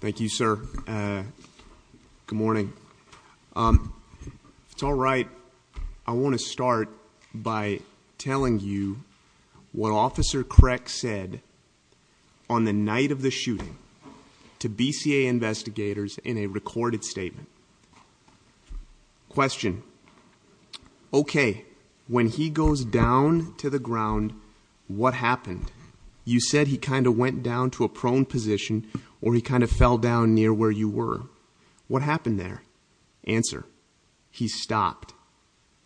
Thank you sir. Good morning. If it's all right, I want to start by telling you what Officer Creck said on the night of the shooting to BCA investigators in a he goes down to the ground, what happened? You said he kind of went down to a prone position or he kind of fell down near where you were. What happened there? Answer. He stopped,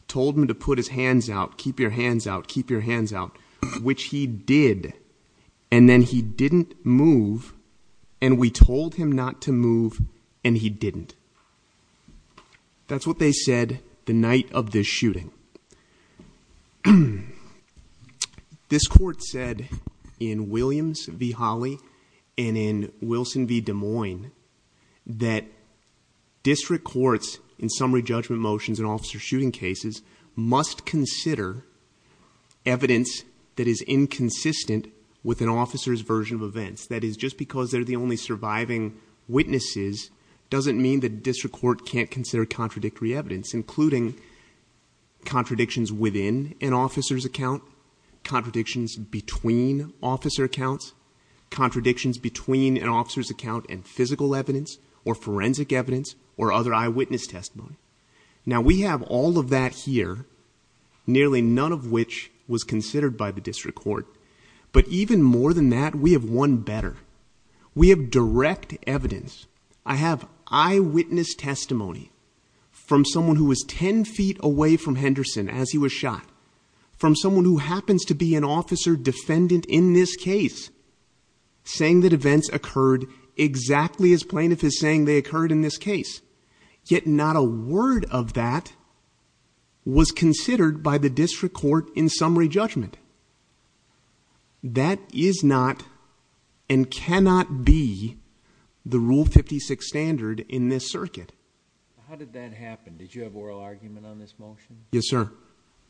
told him to put his hands out, keep your hands out, keep your hands out, which he did. And then he didn't move. And we told him not to move. And he didn't. That's what they said the night of this shooting. This court said in Williams v. Holly and in Wilson v. Des Moines that district courts in summary judgment motions and officer shooting cases must consider evidence that is inconsistent with an officer's version of events. That is just because they're the only surviving witnesses doesn't mean that district court can't consider contradictory evidence, including contradictions within an officer's account, contradictions between officer accounts, contradictions between an officer's account and physical evidence or forensic evidence or other eyewitness testimony. Now we have all of that here, nearly none of which was considered by evidence. I have eyewitness testimony from someone who was ten feet away from Henderson as he was shot from someone who happens to be an officer defendant in this case, saying that events occurred exactly as plaintiff is saying they occurred in this case. Yet not a word of that was considered by the district court in summary judgment. That is not and cannot be the Rule 56 standard in this circuit. How did that happen? Did you have oral argument on this motion? Yes, sir.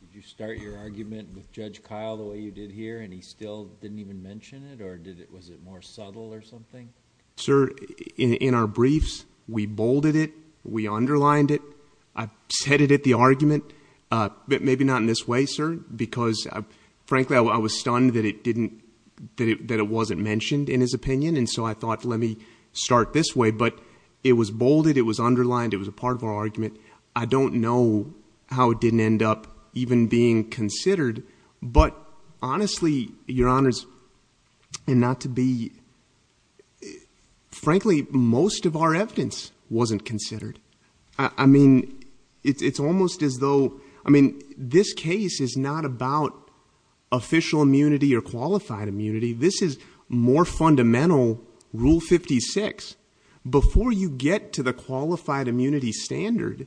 Did you start your argument with Judge Kyle the way you did here and he still didn't even mention it or did it was it more subtle or something? Sir, in our briefs, we bolded it, we underlined it. I've said it at the argument, maybe not in this way, sir, because frankly, I was stunned that it wasn't mentioned in his opinion. And so I thought, let me start this way. But it was bolded, it was underlined, it was a part of our argument. I don't know how it didn't end up even being considered. But honestly, your honors, and not to be frankly, most of our evidence wasn't considered. I mean, it's almost as though, I mean, this case is not about official immunity or qualified immunity. This is more fundamental Rule 56. Before you get to the qualified immunity standard,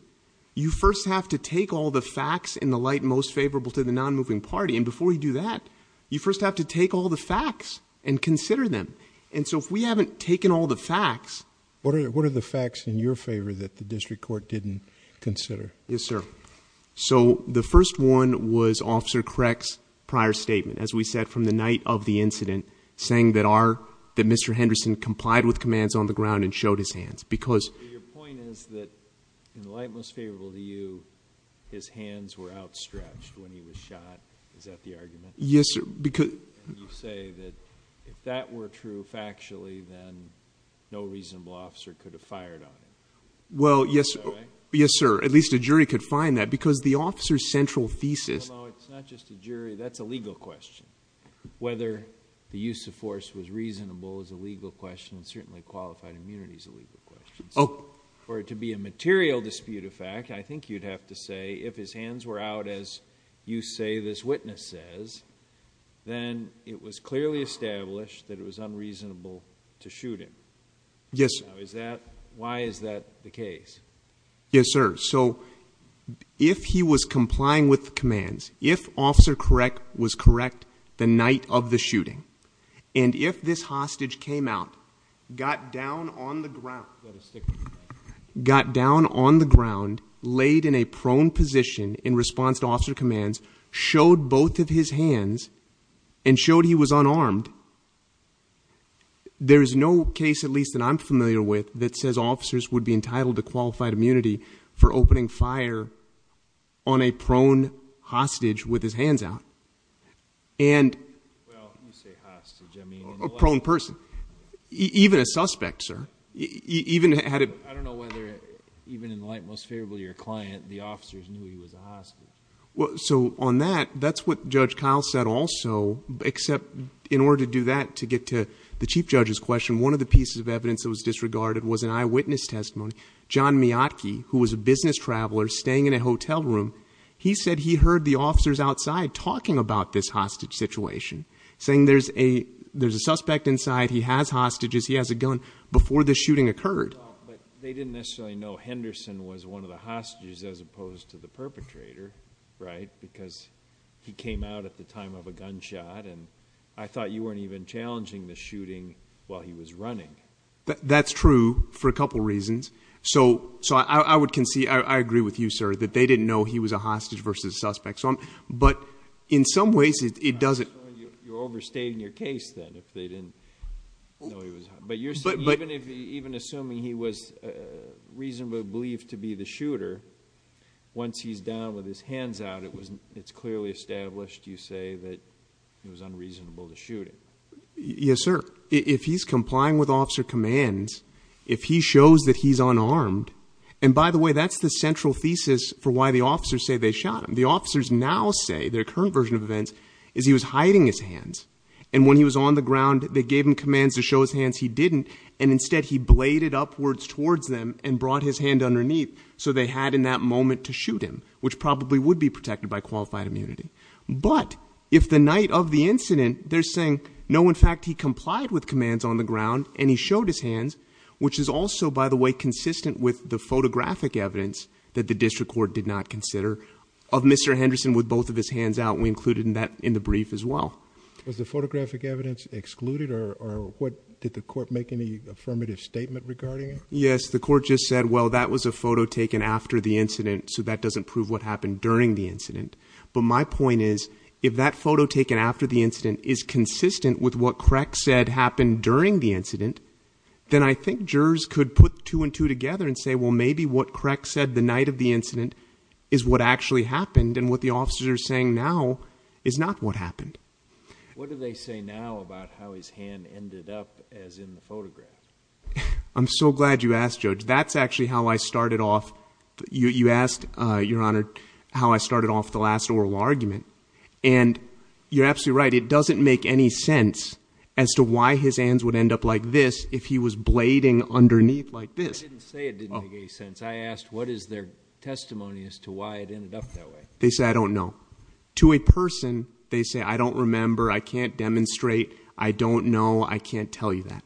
you first have to take all the facts in the light most favorable to the non-moving party. And before you do that, you first have to take all the facts and consider them. And so if we haven't taken all the facts. What are the facts in your favor that the district court didn't consider? Yes, sir. So the first one was Officer Kreck's prior statement. As we said, from the night of the incident, saying that Mr. Henderson complied with commands on the ground and showed his hands. Because your point is that in the light most favorable to you, his hands were outstretched when he was shot. Is that the argument? Yes, sir. You say that if that were true factually, then no reasonable officer could have fired on him. Well, yes, sir. At least a jury could find that because the officer's central thesis. No, it's not just a jury. That's a legal question. Whether the use of force was reasonable is a legal question and certainly qualified immunity is a legal question. So for it to be a material dispute of fact, I think you'd have to say if his hands were out as you say this witness says, then it was clearly established that it was unreasonable to shoot him. Yes, sir. Is that why is that the case? Yes, sir. So if he was complying with the commands, if Officer Kreck was correct, the night of the shooting, and if this hostage came out, got down on the ground, got down on the ground, laid in a prone position in response to officer commands, showed both of his hands, and showed he was unarmed, there is no case at least that I'm familiar with that says officers would be entitled to qualified immunity for opening fire on a prone hostage with his hands out. Well, when you say hostage, I mean- A prone person. Even a suspect, sir. Even had a- I don't know whether even in the light most favorable to your client, the officers knew he was a hostage. So on that, that's what Judge Kyle said also, except in order to do that to get to the Chief Judge's question, one of the pieces of evidence that was disregarded was an eyewitness testimony. John Miatky, who was a business traveler staying in a hotel room, he said he heard the officers outside talking about this hostage situation, saying there's a suspect inside, he has hostages, he has a gun before the shooting occurred. They didn't necessarily know Henderson was one of the hostages as opposed to the perpetrator. Because he came out at the time of a gunshot and I thought you weren't even challenging the shooting while he was running. That's true for a couple reasons. So I would concede, I agree with you, sir, that they didn't know he was a hostage versus a suspect. But in some ways, it doesn't- I'm sorry, you're overstating your case then if they didn't know he was a hostage. But even assuming he was reasonably believed to be the shooter, once he's down with his hands out, it's clearly established, you say, that it was unreasonable to shoot him. Yes, sir. If he's complying with officer commands, if he shows that he's unarmed, and by the way, that's the central thesis for why the officers say they shot him. The officers now say, their current version of events, is he was hiding his hands. And when he was on the ground, they gave him commands to show his hands, he didn't. And instead, he bladed upwards towards them and brought his hand underneath, so they had in that moment to shoot him, which probably would be protected by qualified immunity. But if the night of the incident, they're saying, no, in fact, he complied with commands on the ground and he showed his hands, which is also, by the way, consistent with the photographic evidence that the district court did not consider of Mr. Henderson with both of his hands out. We included that in the brief as well. Was the photographic evidence excluded or did the court make any affirmative statement regarding it? Yes, the court just said, well, that was a photo taken after the incident. So that doesn't prove what happened during the incident. But my point is, if that photo taken after the incident is consistent with what Crack said happened during the incident, then I think jurors could put two and two together and say, well, maybe what Crack said the night of the incident is what actually happened. And what the officers are saying now is not what happened. What do they say now about how his hand ended up as in the photograph? I'm so glad you asked, Judge. That's actually how I started off. You asked, Your Honor, how I started off the last oral argument. And you're absolutely right. It doesn't make any sense as to why his hands would end up like this if he was blading underneath like this. I didn't say it didn't make any sense. I asked what is their testimony as to why it ended up that way? They said, I don't know. To a person, they say, I don't remember. I can't demonstrate. I don't know. I can't tell you that.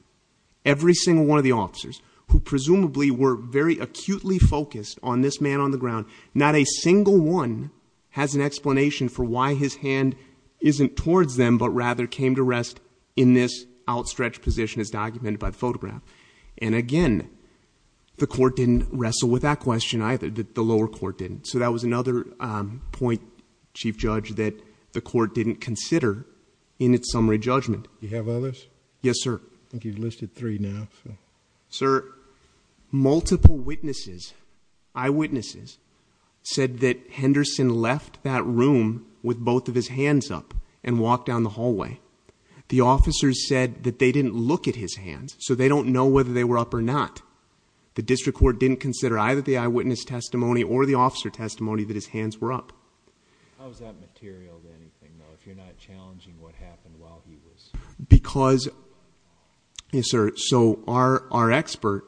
Every single one of the officers who presumably were very acutely focused on this man on the ground, not a single one has an explanation for why his hand isn't towards them, but rather came to rest in this outstretched position as documented by the photograph. And again, the court didn't wrestle with that question either. The lower court didn't. So that was another point, Chief Judge, that the court didn't consider in its summary judgment. You have others? Yes, sir. I think you've listed three now. Sir, multiple witnesses, eyewitnesses said that Henderson left that room with both of his hands up and walked down the hallway. The officers said that they didn't look at his hands, so they don't know whether they were up or not. The district court didn't consider either the officer testimony that his hands were up. How is that material to anything, though, if you're not challenging what happened while he was? Because, yes, sir, so our expert,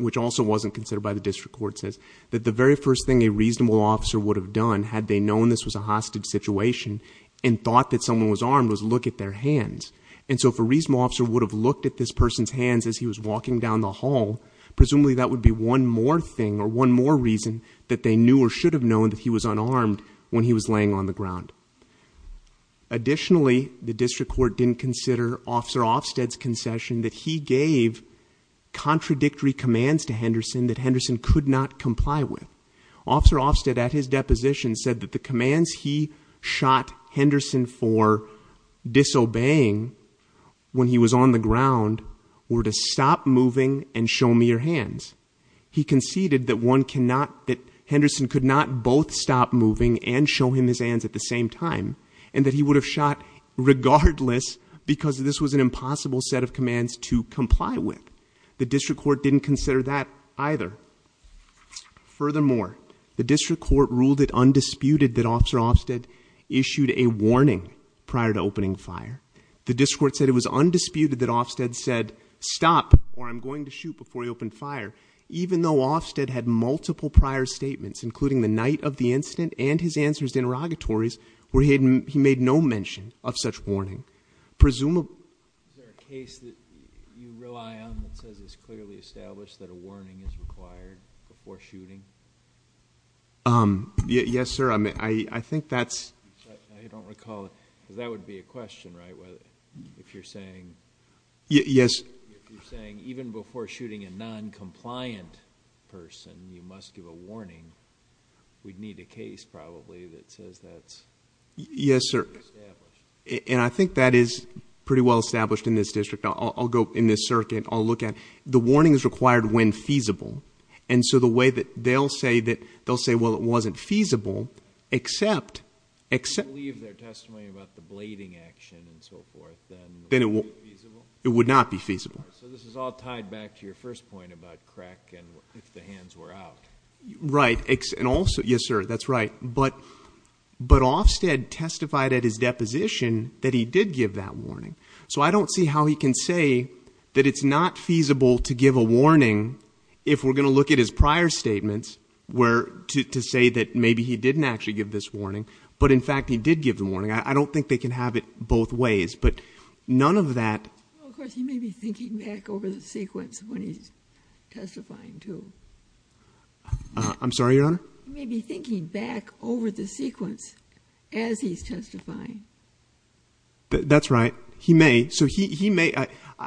which also wasn't considered by the district court, says that the very first thing a reasonable officer would have done, had they known this was a hostage situation and thought that someone was armed, was look at their hands. And so if a reasonable officer would have looked at this person's hands as he was walking down the hall, presumably that would be one more thing or one more reason that they knew or should have known that he was unarmed when he was laying on the ground. Additionally, the district court didn't consider Officer Ofsted's concession that he gave contradictory commands to Henderson that Henderson could not comply with. Officer Ofsted, at his deposition, said that the commands he shot Henderson for disobeying when he was on the ground were to stop moving and show me your hands. He conceded that Henderson could not both stop moving and show him his hands at the same time and that he would have shot regardless because this was an impossible set of commands to comply with. The district court didn't consider that either. Furthermore, the district court ruled it undisputed that Officer Ofsted issued a warning prior to opening fire. The district court said it was undisputed that Ofsted said stop or I'm going to shoot before he opened fire, even though Ofsted had multiple prior statements, including the night of the incident and his answers to interrogatories, where he made no mention of such warning. Presumably... Is there a case that you rely on that says it's clearly established that a warning is required before shooting? Yes, sir. I think that's... I don't recall it because that would be a question, right? If you're saying... Yes. If you're saying even before shooting a non-compliant person, you must give a warning, we'd need a case probably that says that's... Yes, sir. And I think that is pretty well established in this district. I'll go in this circuit. I'll look and so the way that they'll say that they'll say, well, it wasn't feasible, except... Except leave their testimony about the blading action and so forth, then it would not be feasible. So this is all tied back to your first point about crack and if the hands were out. Right. And also... Yes, sir. That's right. But Ofsted testified at his deposition that he did give that warning. So I don't see how he can say that it's not feasible to give a warning if we're going to look at his prior statements to say that maybe he didn't actually give this warning, but in fact he did give the warning. I don't think they can have it both ways, but none of that... Of course, he may be thinking back over the sequence when he's testifying too. I'm sorry, your honor? He may be thinking back over the sequence as he's testifying. That's right. He may. So he may...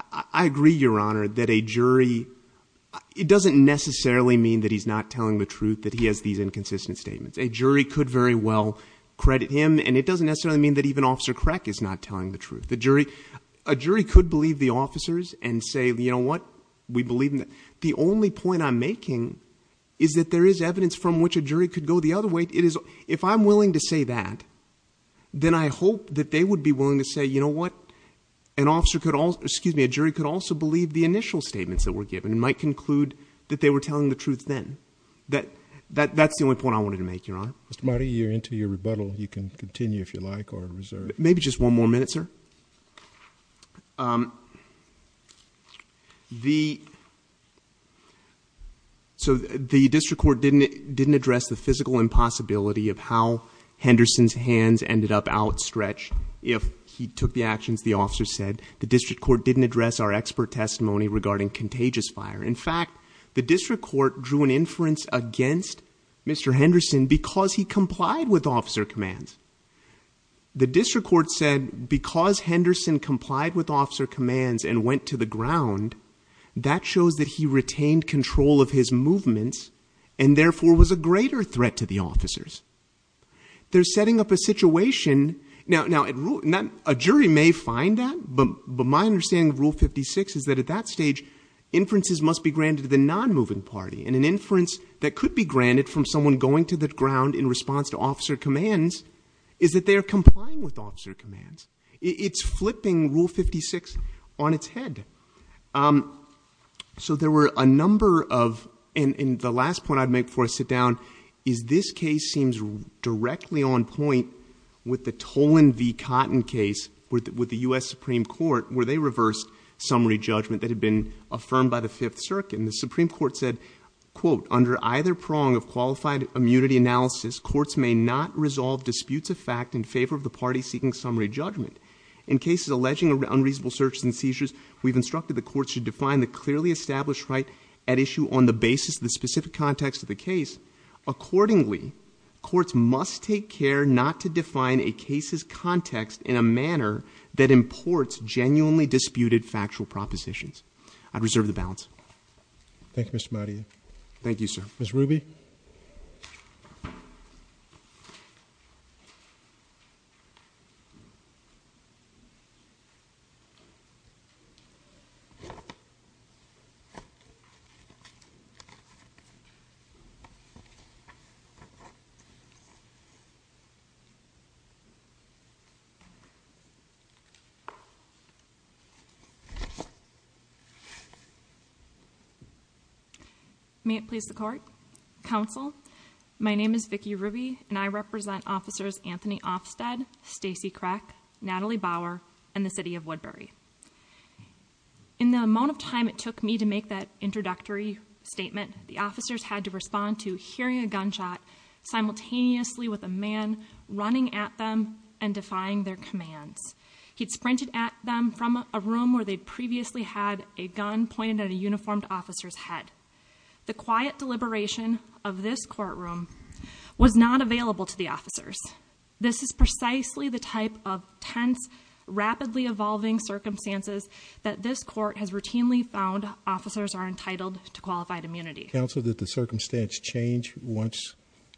I agree, your honor, that a jury... It doesn't necessarily mean that he's not telling the truth, that he has these inconsistent statements. A jury could very well credit him and it doesn't necessarily mean that even Officer Crack is not telling the truth. The jury... A jury could believe the officers and say, you know what, we believe... The only point I'm making is that there is evidence from which a jury could go the other way. It is... If I'm that they would be willing to say, you know what, an officer could also... Excuse me, a jury could also believe the initial statements that were given and might conclude that they were telling the truth then. That's the only point I wanted to make, your honor. Mr. Marty, you're into your rebuttal. You can continue if you like or reserve. Maybe just one more minute, sir. So the district court didn't address the physical impossibility of how Henderson's hands ended up outstretched if he took the actions the officer said. The district court didn't address our expert testimony regarding contagious fire. In fact, the district court drew an inference against Mr. Henderson because he complied with officer commands. The district court said because Henderson complied with officer commands and went to the ground, that shows that he retained control of his movements and therefore was a greater threat to the officers. They're setting up a Now, a jury may find that, but my understanding of Rule 56 is that at that stage, inferences must be granted to the non-moving party. And an inference that could be granted from someone going to the ground in response to officer commands is that they're complying with officer commands. It's flipping Rule 56 on its head. So there were a number of... And the last point I'd sit down is this case seems directly on point with the Tolan v. Cotton case with the U.S. Supreme Court, where they reversed summary judgment that had been affirmed by the Fifth Circuit. And the Supreme Court said, quote, under either prong of qualified immunity analysis, courts may not resolve disputes of fact in favor of the party seeking summary judgment. In cases alleging unreasonable searches and seizures, we've instructed the courts to define the clearly established right at issue on the basis of the specific context of the case. Accordingly, courts must take care not to define a case's context in a manner that imports genuinely disputed factual propositions. I'd reserve the balance. Thank you, Mr. Madia. Thank you, sir. Ms. Ruby? May it please the Court, Counsel, my name is Vicki Ruby, and I represent Officers Anthony Ofsted, Stacey Crack, Natalie Bauer, and the City of Woodbury. In the amount of time it took me to make that introductory statement, the officers had to respond to hearing a gunshot simultaneously with a man running at them and defying their commands. He'd sprinted at them from a room where they'd previously had a gun pointed at a uniformed officer's head. The quiet deliberation of this courtroom was not available to the officers. This is precisely the type of tense, rapidly evolving circumstances that this court has routinely found officers are entitled to qualified immunity. Counsel, did the circumstance change once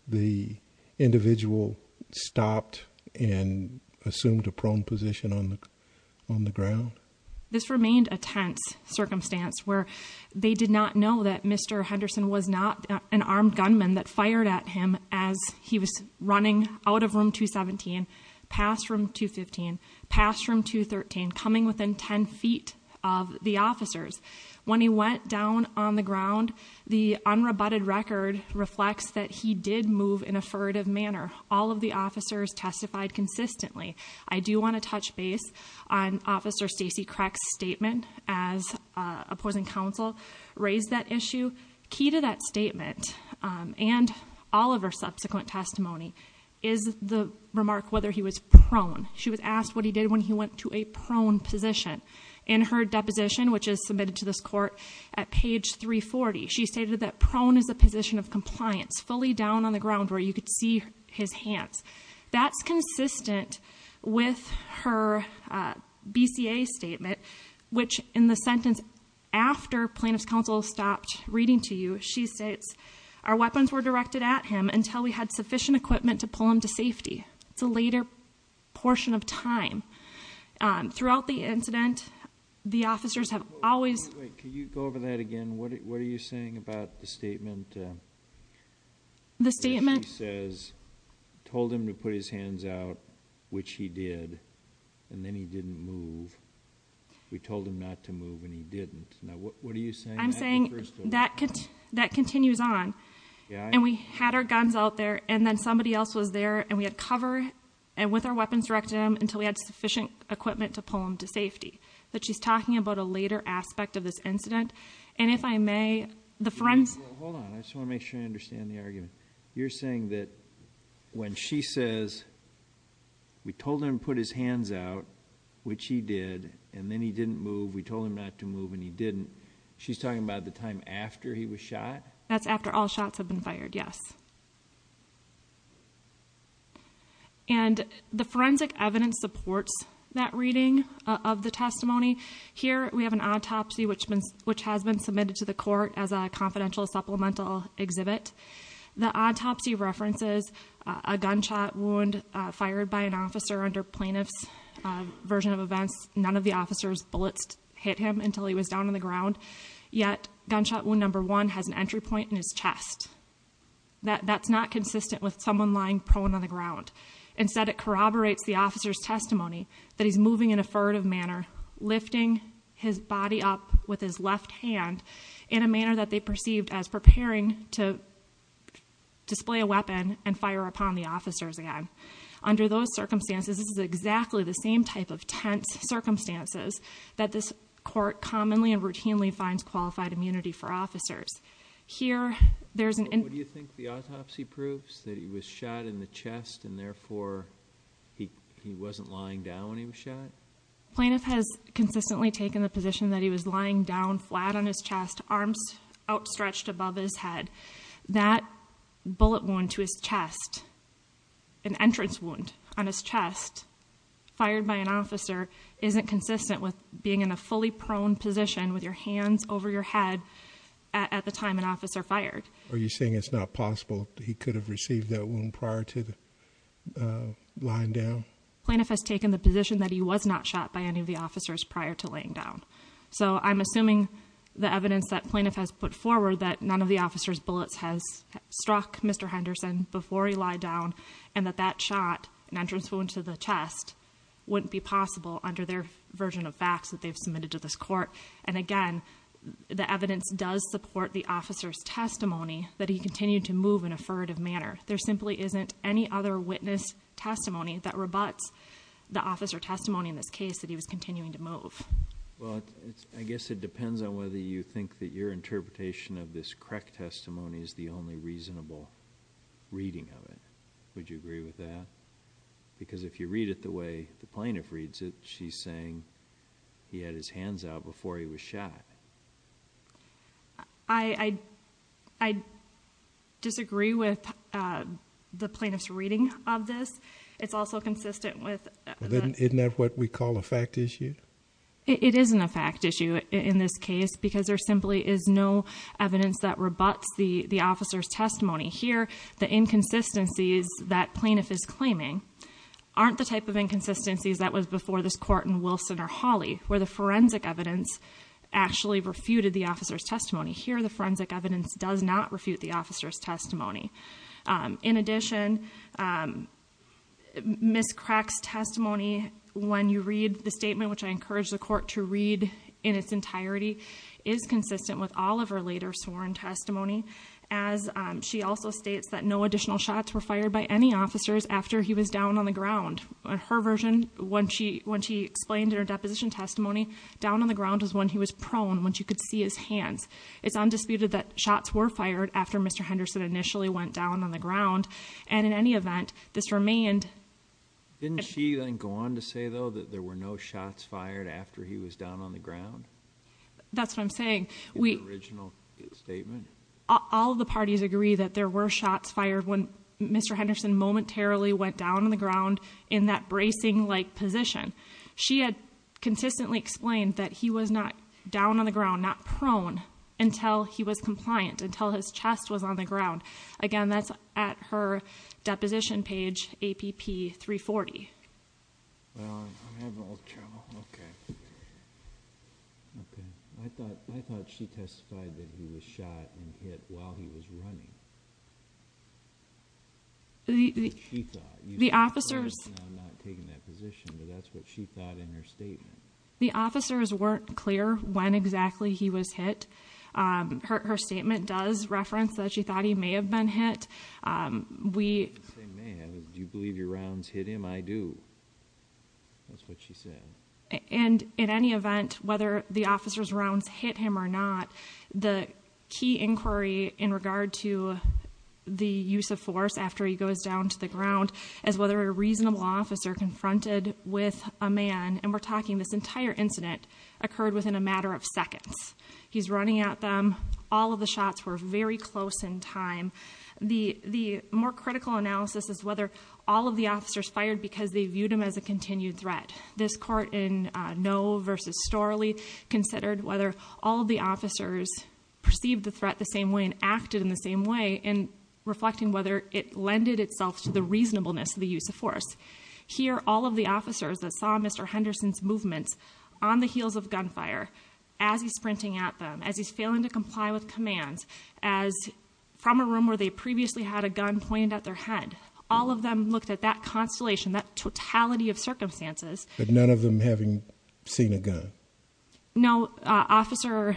the individual stopped and assumed a prone position on the ground? This remained a tense circumstance where they did not know that Mr. Henderson was not an armed gunman that fired at him as he was running out of room 217, past room 215, past room 213, coming within 10 feet of the officers. When he went down on the ground, the unrebutted record reflects that he did move in a furtive manner. All of the officers testified consistently. I do want to touch base on Officer Stacey Crack's statement as opposing counsel, raised that issue. Key to that statement and all of her subsequent testimony is the remark whether he was prone. She was asked what he did when he went to a prone position. In her deposition, which is submitted to this court at page 340, she stated that prone is a position of compliance, fully down on the ground where you could see his hands. That's consistent with her BCA statement, which in the sentence after plaintiff's counsel stopped reading to you, she states, our weapons were directed at him until we had sufficient equipment to pull him to safety. It's a later portion of time. Throughout the incident, the officers have always... Again, what are you saying about the statement? The statement says, told him to put his hands out, which he did, and then he didn't move. We told him not to move and he didn't. Now, what are you saying? I'm saying that continues on and we had our guns out there and then somebody else was there and we had cover and with our weapons directed him until we had sufficient equipment to pull him to safety. That she's talking about a later aspect of this incident. And if I may... Hold on. I just want to make sure I understand the argument. You're saying that when she says, we told him to put his hands out, which he did, and then he didn't move. We told him not to move and he didn't. She's talking about the time after he was shot? That's after all shots have been fired. Yes. And the forensic evidence supports that reading of the testimony. Here, we have an autopsy, which has been submitted to the court as a confidential supplemental exhibit. The autopsy references a gunshot wound fired by an officer under plaintiff's version of events. None of the officers' bullets hit him until he was down on the ground. Yet, gunshot wound number one has entry point in his chest. That's not consistent with someone lying prone on the ground. Instead, it corroborates the officer's testimony that he's moving in a furtive manner, lifting his body up with his left hand in a manner that they perceived as preparing to display a weapon and fire upon the officers again. Under those circumstances, this is exactly the same type of tense circumstances that this court commonly and routinely finds qualified immunity for officers. Here, there's an... What do you think the autopsy proves? That he was shot in the chest and therefore he wasn't lying down when he was shot? Plaintiff has consistently taken the position that he was lying down flat on his chest, arms outstretched above his head. That bullet wound to his chest, an entrance wound on his chest, fired by an officer, isn't consistent with being in a fully prone position with your hands over your head at the time an officer fired. Are you saying it's not possible that he could have received that wound prior to lying down? Plaintiff has taken the position that he was not shot by any of the officers prior to laying down. So, I'm assuming the evidence that plaintiff has put forward that none of the officers' bullets has an entrance wound to the chest wouldn't be possible under their version of facts that they've submitted to this court. And again, the evidence does support the officer's testimony that he continued to move in a furtive manner. There simply isn't any other witness testimony that rebuts the officer testimony in this case that he was continuing to move. Well, I guess it depends on whether you think that your interpretation of this correct testimony is the only reasonable reading of it. Would you agree with that? Because if you read it the way the plaintiff reads it, she's saying he had his hands out before he was shot. I disagree with the plaintiff's reading of this. It's also consistent with... Isn't that what we call a fact issue? It isn't a fact issue in this case because there simply is no evidence that rebuts the officer's testimony. Here, the inconsistencies that plaintiff is claiming aren't the type of inconsistencies that was before this court in Wilson or Hawley, where the forensic evidence actually refuted the officer's testimony. Here, the forensic evidence does not refute the officer's testimony. When you read the statement, which I encourage the court to read in its entirety, is consistent with all of her later sworn testimony as she also states that no additional shots were fired by any officers after he was down on the ground. Her version, when she explained in her deposition testimony, down on the ground was when he was prone, when she could see his hands. It's undisputed that shots were fired after Mr. Henderson initially went down on the ground and in any event, this remained... Didn't she then go on to say though that there were no shots fired after he was down on the ground? That's what I'm saying. The original statement? All of the parties agree that there were shots fired when Mr. Henderson momentarily went down on the ground in that bracing-like position. She had consistently explained that he was not down on the ground, not prone, until he was compliant, until his chest was on the ground. Again, that's at her deposition page, APP 340. Well, I'm having a little trouble. Okay. Okay. I thought she testified that he was shot and hit while he was running. What she thought. The officers... I'm not taking that position, but that's what she thought in her statement. The officers weren't clear when exactly he was hit. Her statement does reference that she thought he may have been hit. We... I didn't say may have. Do you believe your rounds hit him? I do. That's what she said. And in any event, whether the officer's rounds hit him or not, the key inquiry in regard to the use of force after he goes down to the ground as whether a reasonable officer confronted with a man, and we're talking this entire incident, occurred within a matter of seconds. He's running at them. All of the shots were very close in time. The more critical analysis is whether all of the officers fired because they viewed him as a continued threat. This court in Noe v. Storley considered whether all of the officers perceived the threat the same way and acted in the same way, and reflecting whether it lended itself to the reasonableness of the use of force. Here, all of the officers that saw Mr. Henderson's movements on the heels of gunfire, as he's sprinting at them, as he's failing to comply with commands, as from a room where they previously had a gun pointed at their head, all of them looked at that constellation, that totality of circumstances. But none of them having seen a gun? No. Officer...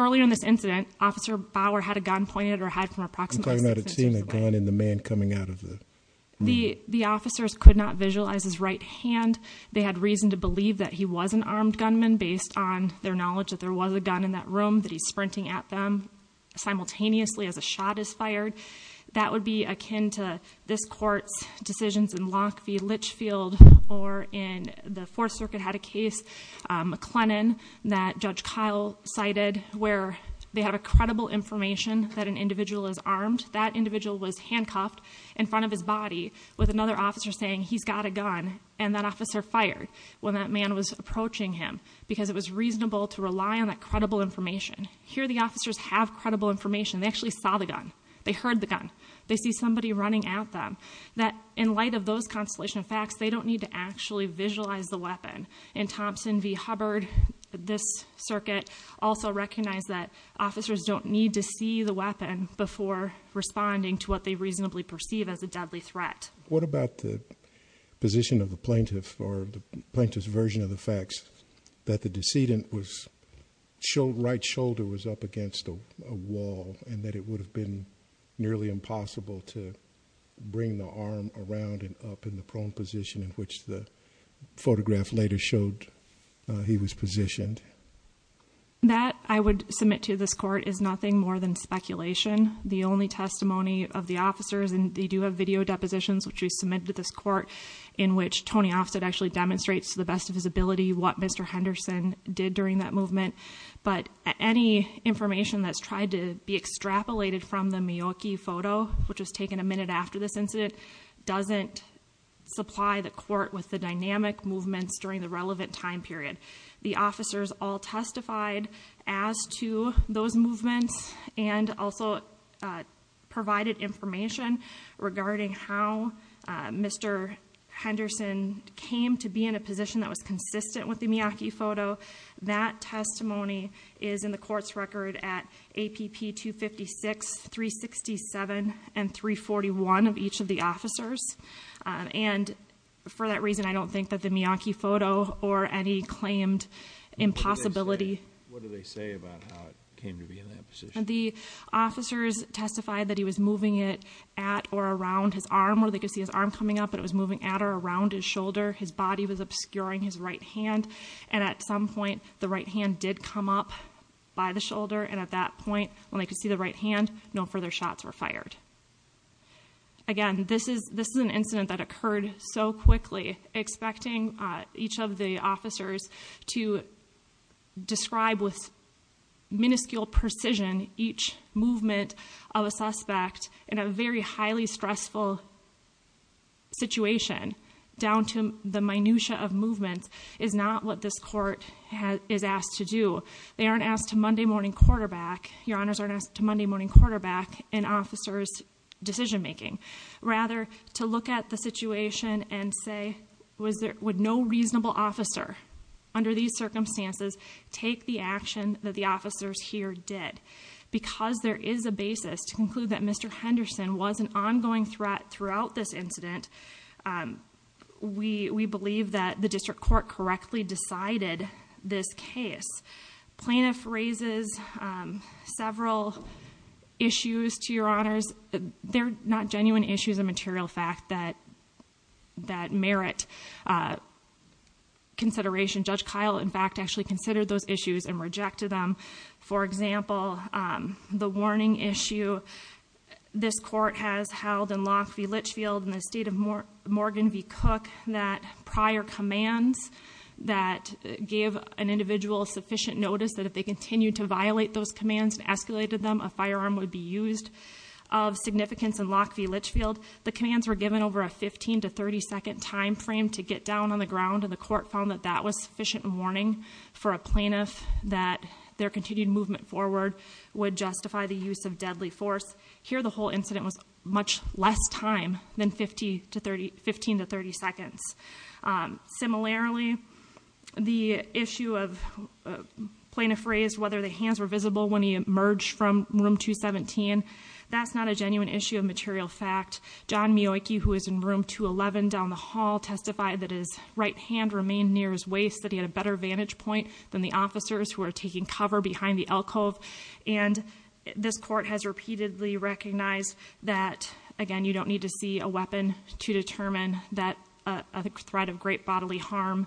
Earlier in this incident, Officer Bauer had a gun pointed at her head from approximately six inches away. I'm talking about seeing a gun and the man coming out of the... The officers could not visualize his right hand. They had reason to believe that he was an armed gunman based on their knowledge that there was a gun in that room that he's sprinting at them simultaneously as a shot is fired. That would be akin to this court's decisions in Lock v. Litchfield, or in the Fourth Circuit had a case, McLennan, that Judge Kyle cited where they have a credible information that an individual is armed. That individual was handcuffed in front of his body with another officer saying, he's got a gun, and that officer fired when that was approaching him because it was reasonable to rely on that credible information. Here the officers have credible information. They actually saw the gun. They heard the gun. They see somebody running at them. In light of those constellation facts, they don't need to actually visualize the weapon. In Thompson v. Hubbard, this circuit also recognized that officers don't need to see the weapon before responding to what they reasonably perceive as a deadly threat. What about the position of the plaintiff or the plaintiff's version of the facts that the decedent's right shoulder was up against a wall and that it would have been nearly impossible to bring the arm around and up in the prone position in which the photograph later showed he was positioned? That, I would submit to this court, is nothing more than speculation. The only testimony of the officers, and they do have video depositions which we submitted to this court, in which Tony Ofsted actually demonstrates to the best of his ability what Mr. Henderson did during that movement. But any information that's tried to be extrapolated from the Miyoki photo, which was taken a minute after this incident, doesn't supply the court with the dynamic movements during the relevant time period. The officers all and also provided information regarding how Mr. Henderson came to be in a position that was consistent with the Miyoki photo. That testimony is in the court's record at APP 256, 367, and 341 of each of the officers. And for that reason, I don't think that the Miyoki photo or any claimed impossibility. What do they say about how it came to be in that position? The officers testified that he was moving it at or around his arm, or they could see his arm coming up, but it was moving at or around his shoulder. His body was obscuring his right hand. And at some point, the right hand did come up by the shoulder. And at that point, when they could see the right hand, no further shots were fired. Again, this is an incident that occurred so quickly, expecting each of the officers to describe with minuscule precision each movement of a suspect in a very highly stressful situation down to the minutia of movements is not what this court is asked to do. They aren't asked to Monday morning quarterback, your honors, aren't asked to Monday morning quarterback an officer's decision making. Rather, to look at the situation and say, would no reasonable officer under these circumstances take the action that the officers here did? Because there is a basis to conclude that Mr. Henderson was an ongoing threat throughout this incident, we believe that the district court correctly decided this case. Plaintiff raises several issues to your honors. They're not genuine issues of material fact that merit consideration. Judge Kyle, in fact, actually considered those issues and rejected them. For example, the warning issue this court has held in Lock v. Litchfield in the state of Morgan v. Cook, that prior commands that gave an individual sufficient notice that if they continued to violate those commands and escalated them, a firearm would be used of significance in Lock v. Litchfield. The commands were given over a 15 to 30 second time frame to get down on the ground and the court found that that was sufficient warning for a plaintiff that their continued movement forward would justify the use of deadly force. Here, the whole incident was much less time than 15 to 30 seconds. Similarly, the issue of plaintiff raised whether the hands were visible when he emerged from room 217. That's not a genuine issue of material fact. John Miojki, who is in room 211 down the hall, testified that his right hand remained near his waist, that he had a better vantage point than the officers who are taking cover behind the alcove. And this court has repeatedly recognized that, again, you don't need to see a weapon to determine that a threat of great bodily harm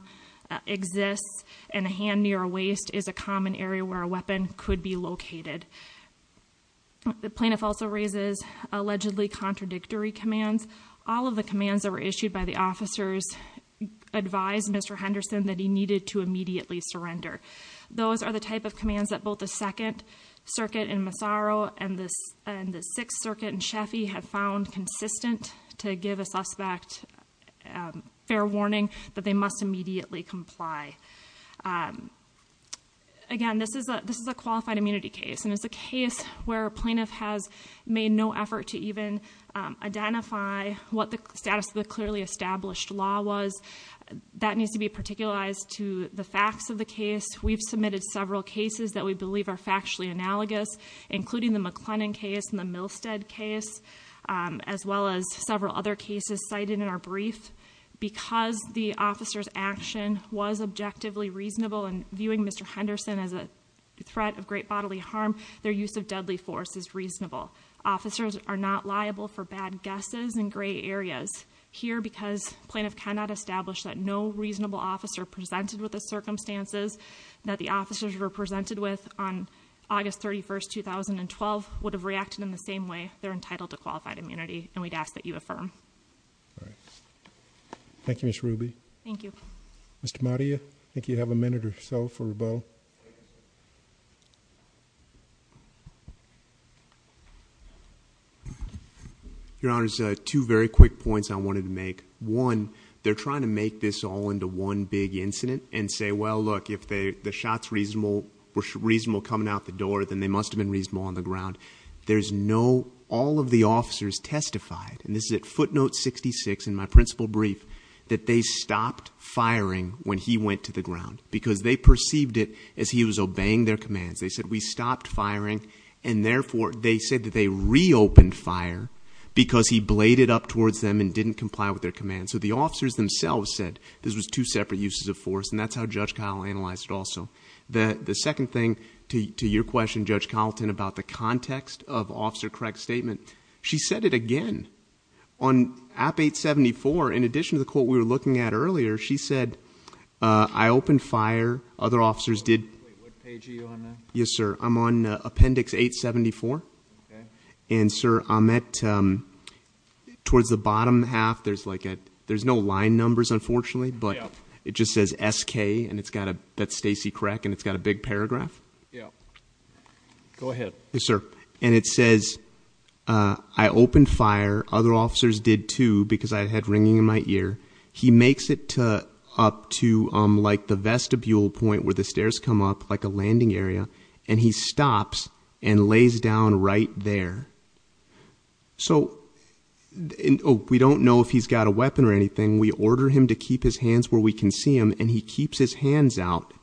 exists and a hand near a waist is a common area where a weapon could be located. The plaintiff also raises allegedly contradictory commands. All of the commands that were issued by the officers advised Mr. Henderson that he needed to immediately surrender. Those are the type of commands that both the Second Circuit in Massaro and the Sixth Circuit in Sheffie have found consistent to give a suspect fair warning that they must immediately comply. Again, this is a qualified immunity case, and it's a case where a plaintiff has made no effort to even identify what the status of the clearly established law was. That needs to be particularized to the facts of the case. We've submitted several cases that we believe are factually analogous, including the McLennan case and the Milstead case, as well as several other cases cited in our brief. Because the officer's action was objectively reasonable in viewing Mr. Henderson as a threat of great bodily harm, their use of deadly force is reasonable. Officers are not liable for bad guesses in gray areas. Here, because plaintiff cannot establish that no reasonable officer presented with the circumstances that the on August 31st, 2012, would have reacted in the same way, they're entitled to qualified immunity, and we'd ask that you affirm. Thank you, Ms. Ruby. Thank you. Mr. Maria, I think you have a minute or so for a vote. Your Honor, two very quick points I wanted to make. One, they're trying to make this all into one big incident and say, well, look, if the shots were reasonable coming out the door, then they must have been reasonable on the ground. There's no, all of the officers testified, and this is at footnote 66 in my principal brief, that they stopped firing when he went to the ground because they perceived it as he was obeying their commands. They said, we stopped firing, and therefore, they said that they reopened fire because he bladed up towards them and didn't comply with their commands. So the officers themselves said this was two separate uses of force, and that's how Judge Colleton analyzed it also. The second thing to your question, Judge Colleton, about the context of Officer Craig's statement, she said it again. On App 874, in addition to the quote we were looking at earlier, she said, I opened fire. Other officers What page are you on there? Yes, sir. I'm on appendix 874, and sir, I'm at, towards the bottom half, there's like a, there's no line numbers, unfortunately, but it just says SK, and it's got a, that's Stacey Craig, and it's got a big paragraph. Yeah. Go ahead. Yes, sir. And it says, I opened fire. Other officers did too, because I had ringing in my ear. He makes it up to like the vestibule point where the stairs come up, like a landing area, and he stops and lays down right there. So we don't know if he's got a weapon or anything. We order him to keep his hands where we can see him, and he keeps his hands out.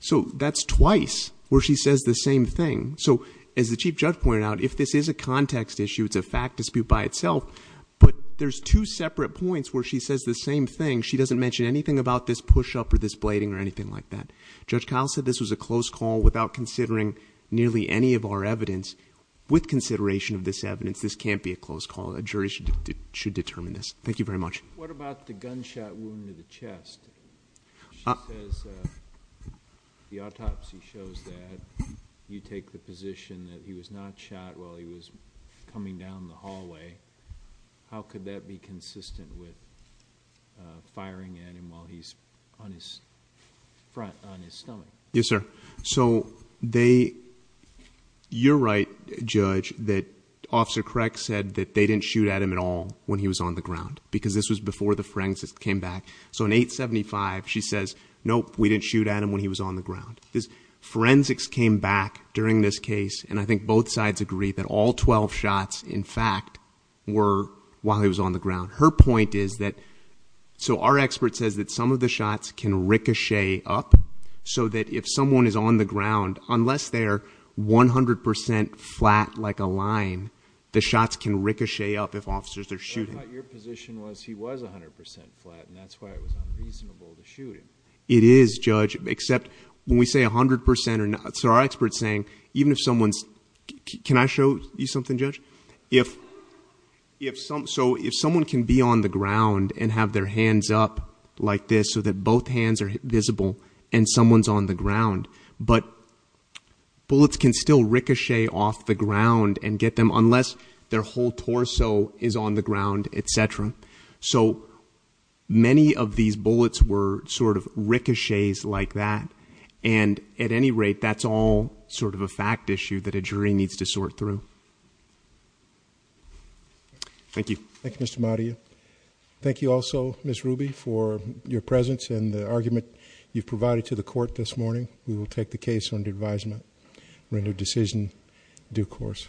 So that's twice where she says the same thing. So as the Chief Judge pointed out, if this is a context issue, it's a fact dispute by itself, but there's two separate points where she says the same thing. She doesn't mention anything about this push-up or this blading or anything like that. Judge Kyle said this was a close call without considering nearly any of our evidence. With consideration of this evidence, this can't be a close call. A jury should determine this. Thank you very much. What about the gunshot wound to the chest? She says the autopsy shows that. You take the position that he was not shot while he was coming down the hallway. How could that be consistent with firing at him while he's on his front, on his stomach? Yes, sir. So you're right, Judge, that Officer Crack said that they didn't shoot at him at all when he was on the ground, because this was before the forensics came back. So in 875, she says, nope, we didn't shoot at him when he was on the ground. Forensics came back during this case, and I think both sides agree that all 12 shots, in fact, were while he was on the ground. Her point is that, so our expert says that some of the shots can ricochet up, so that if someone is on the ground, unless they're 100 percent flat like a line, the shots can ricochet up if officers are shooting. But I thought your position was he was 100 percent flat, and that's why it was unreasonable to shoot him. It is, Judge, except when we say 100 percent or not, so our expert's saying even if someone's, can I show you something, Judge? So if someone can be on the ground and have their hands up like this so that both hands are visible and someone's on the ground, but bullets can still ricochet off the ground and get them unless their whole torso is on the ground, etc. So many of these bullets were sort of ricochets like that, and at any rate, that's all sort of a fact issue that a jury needs to sort through. Thank you. Thank you, Mr. Mario. Thank you also, Ms. Ruby, for your presence and the argument you've provided to the court this morning. We will take the case under advisement, render decision due course.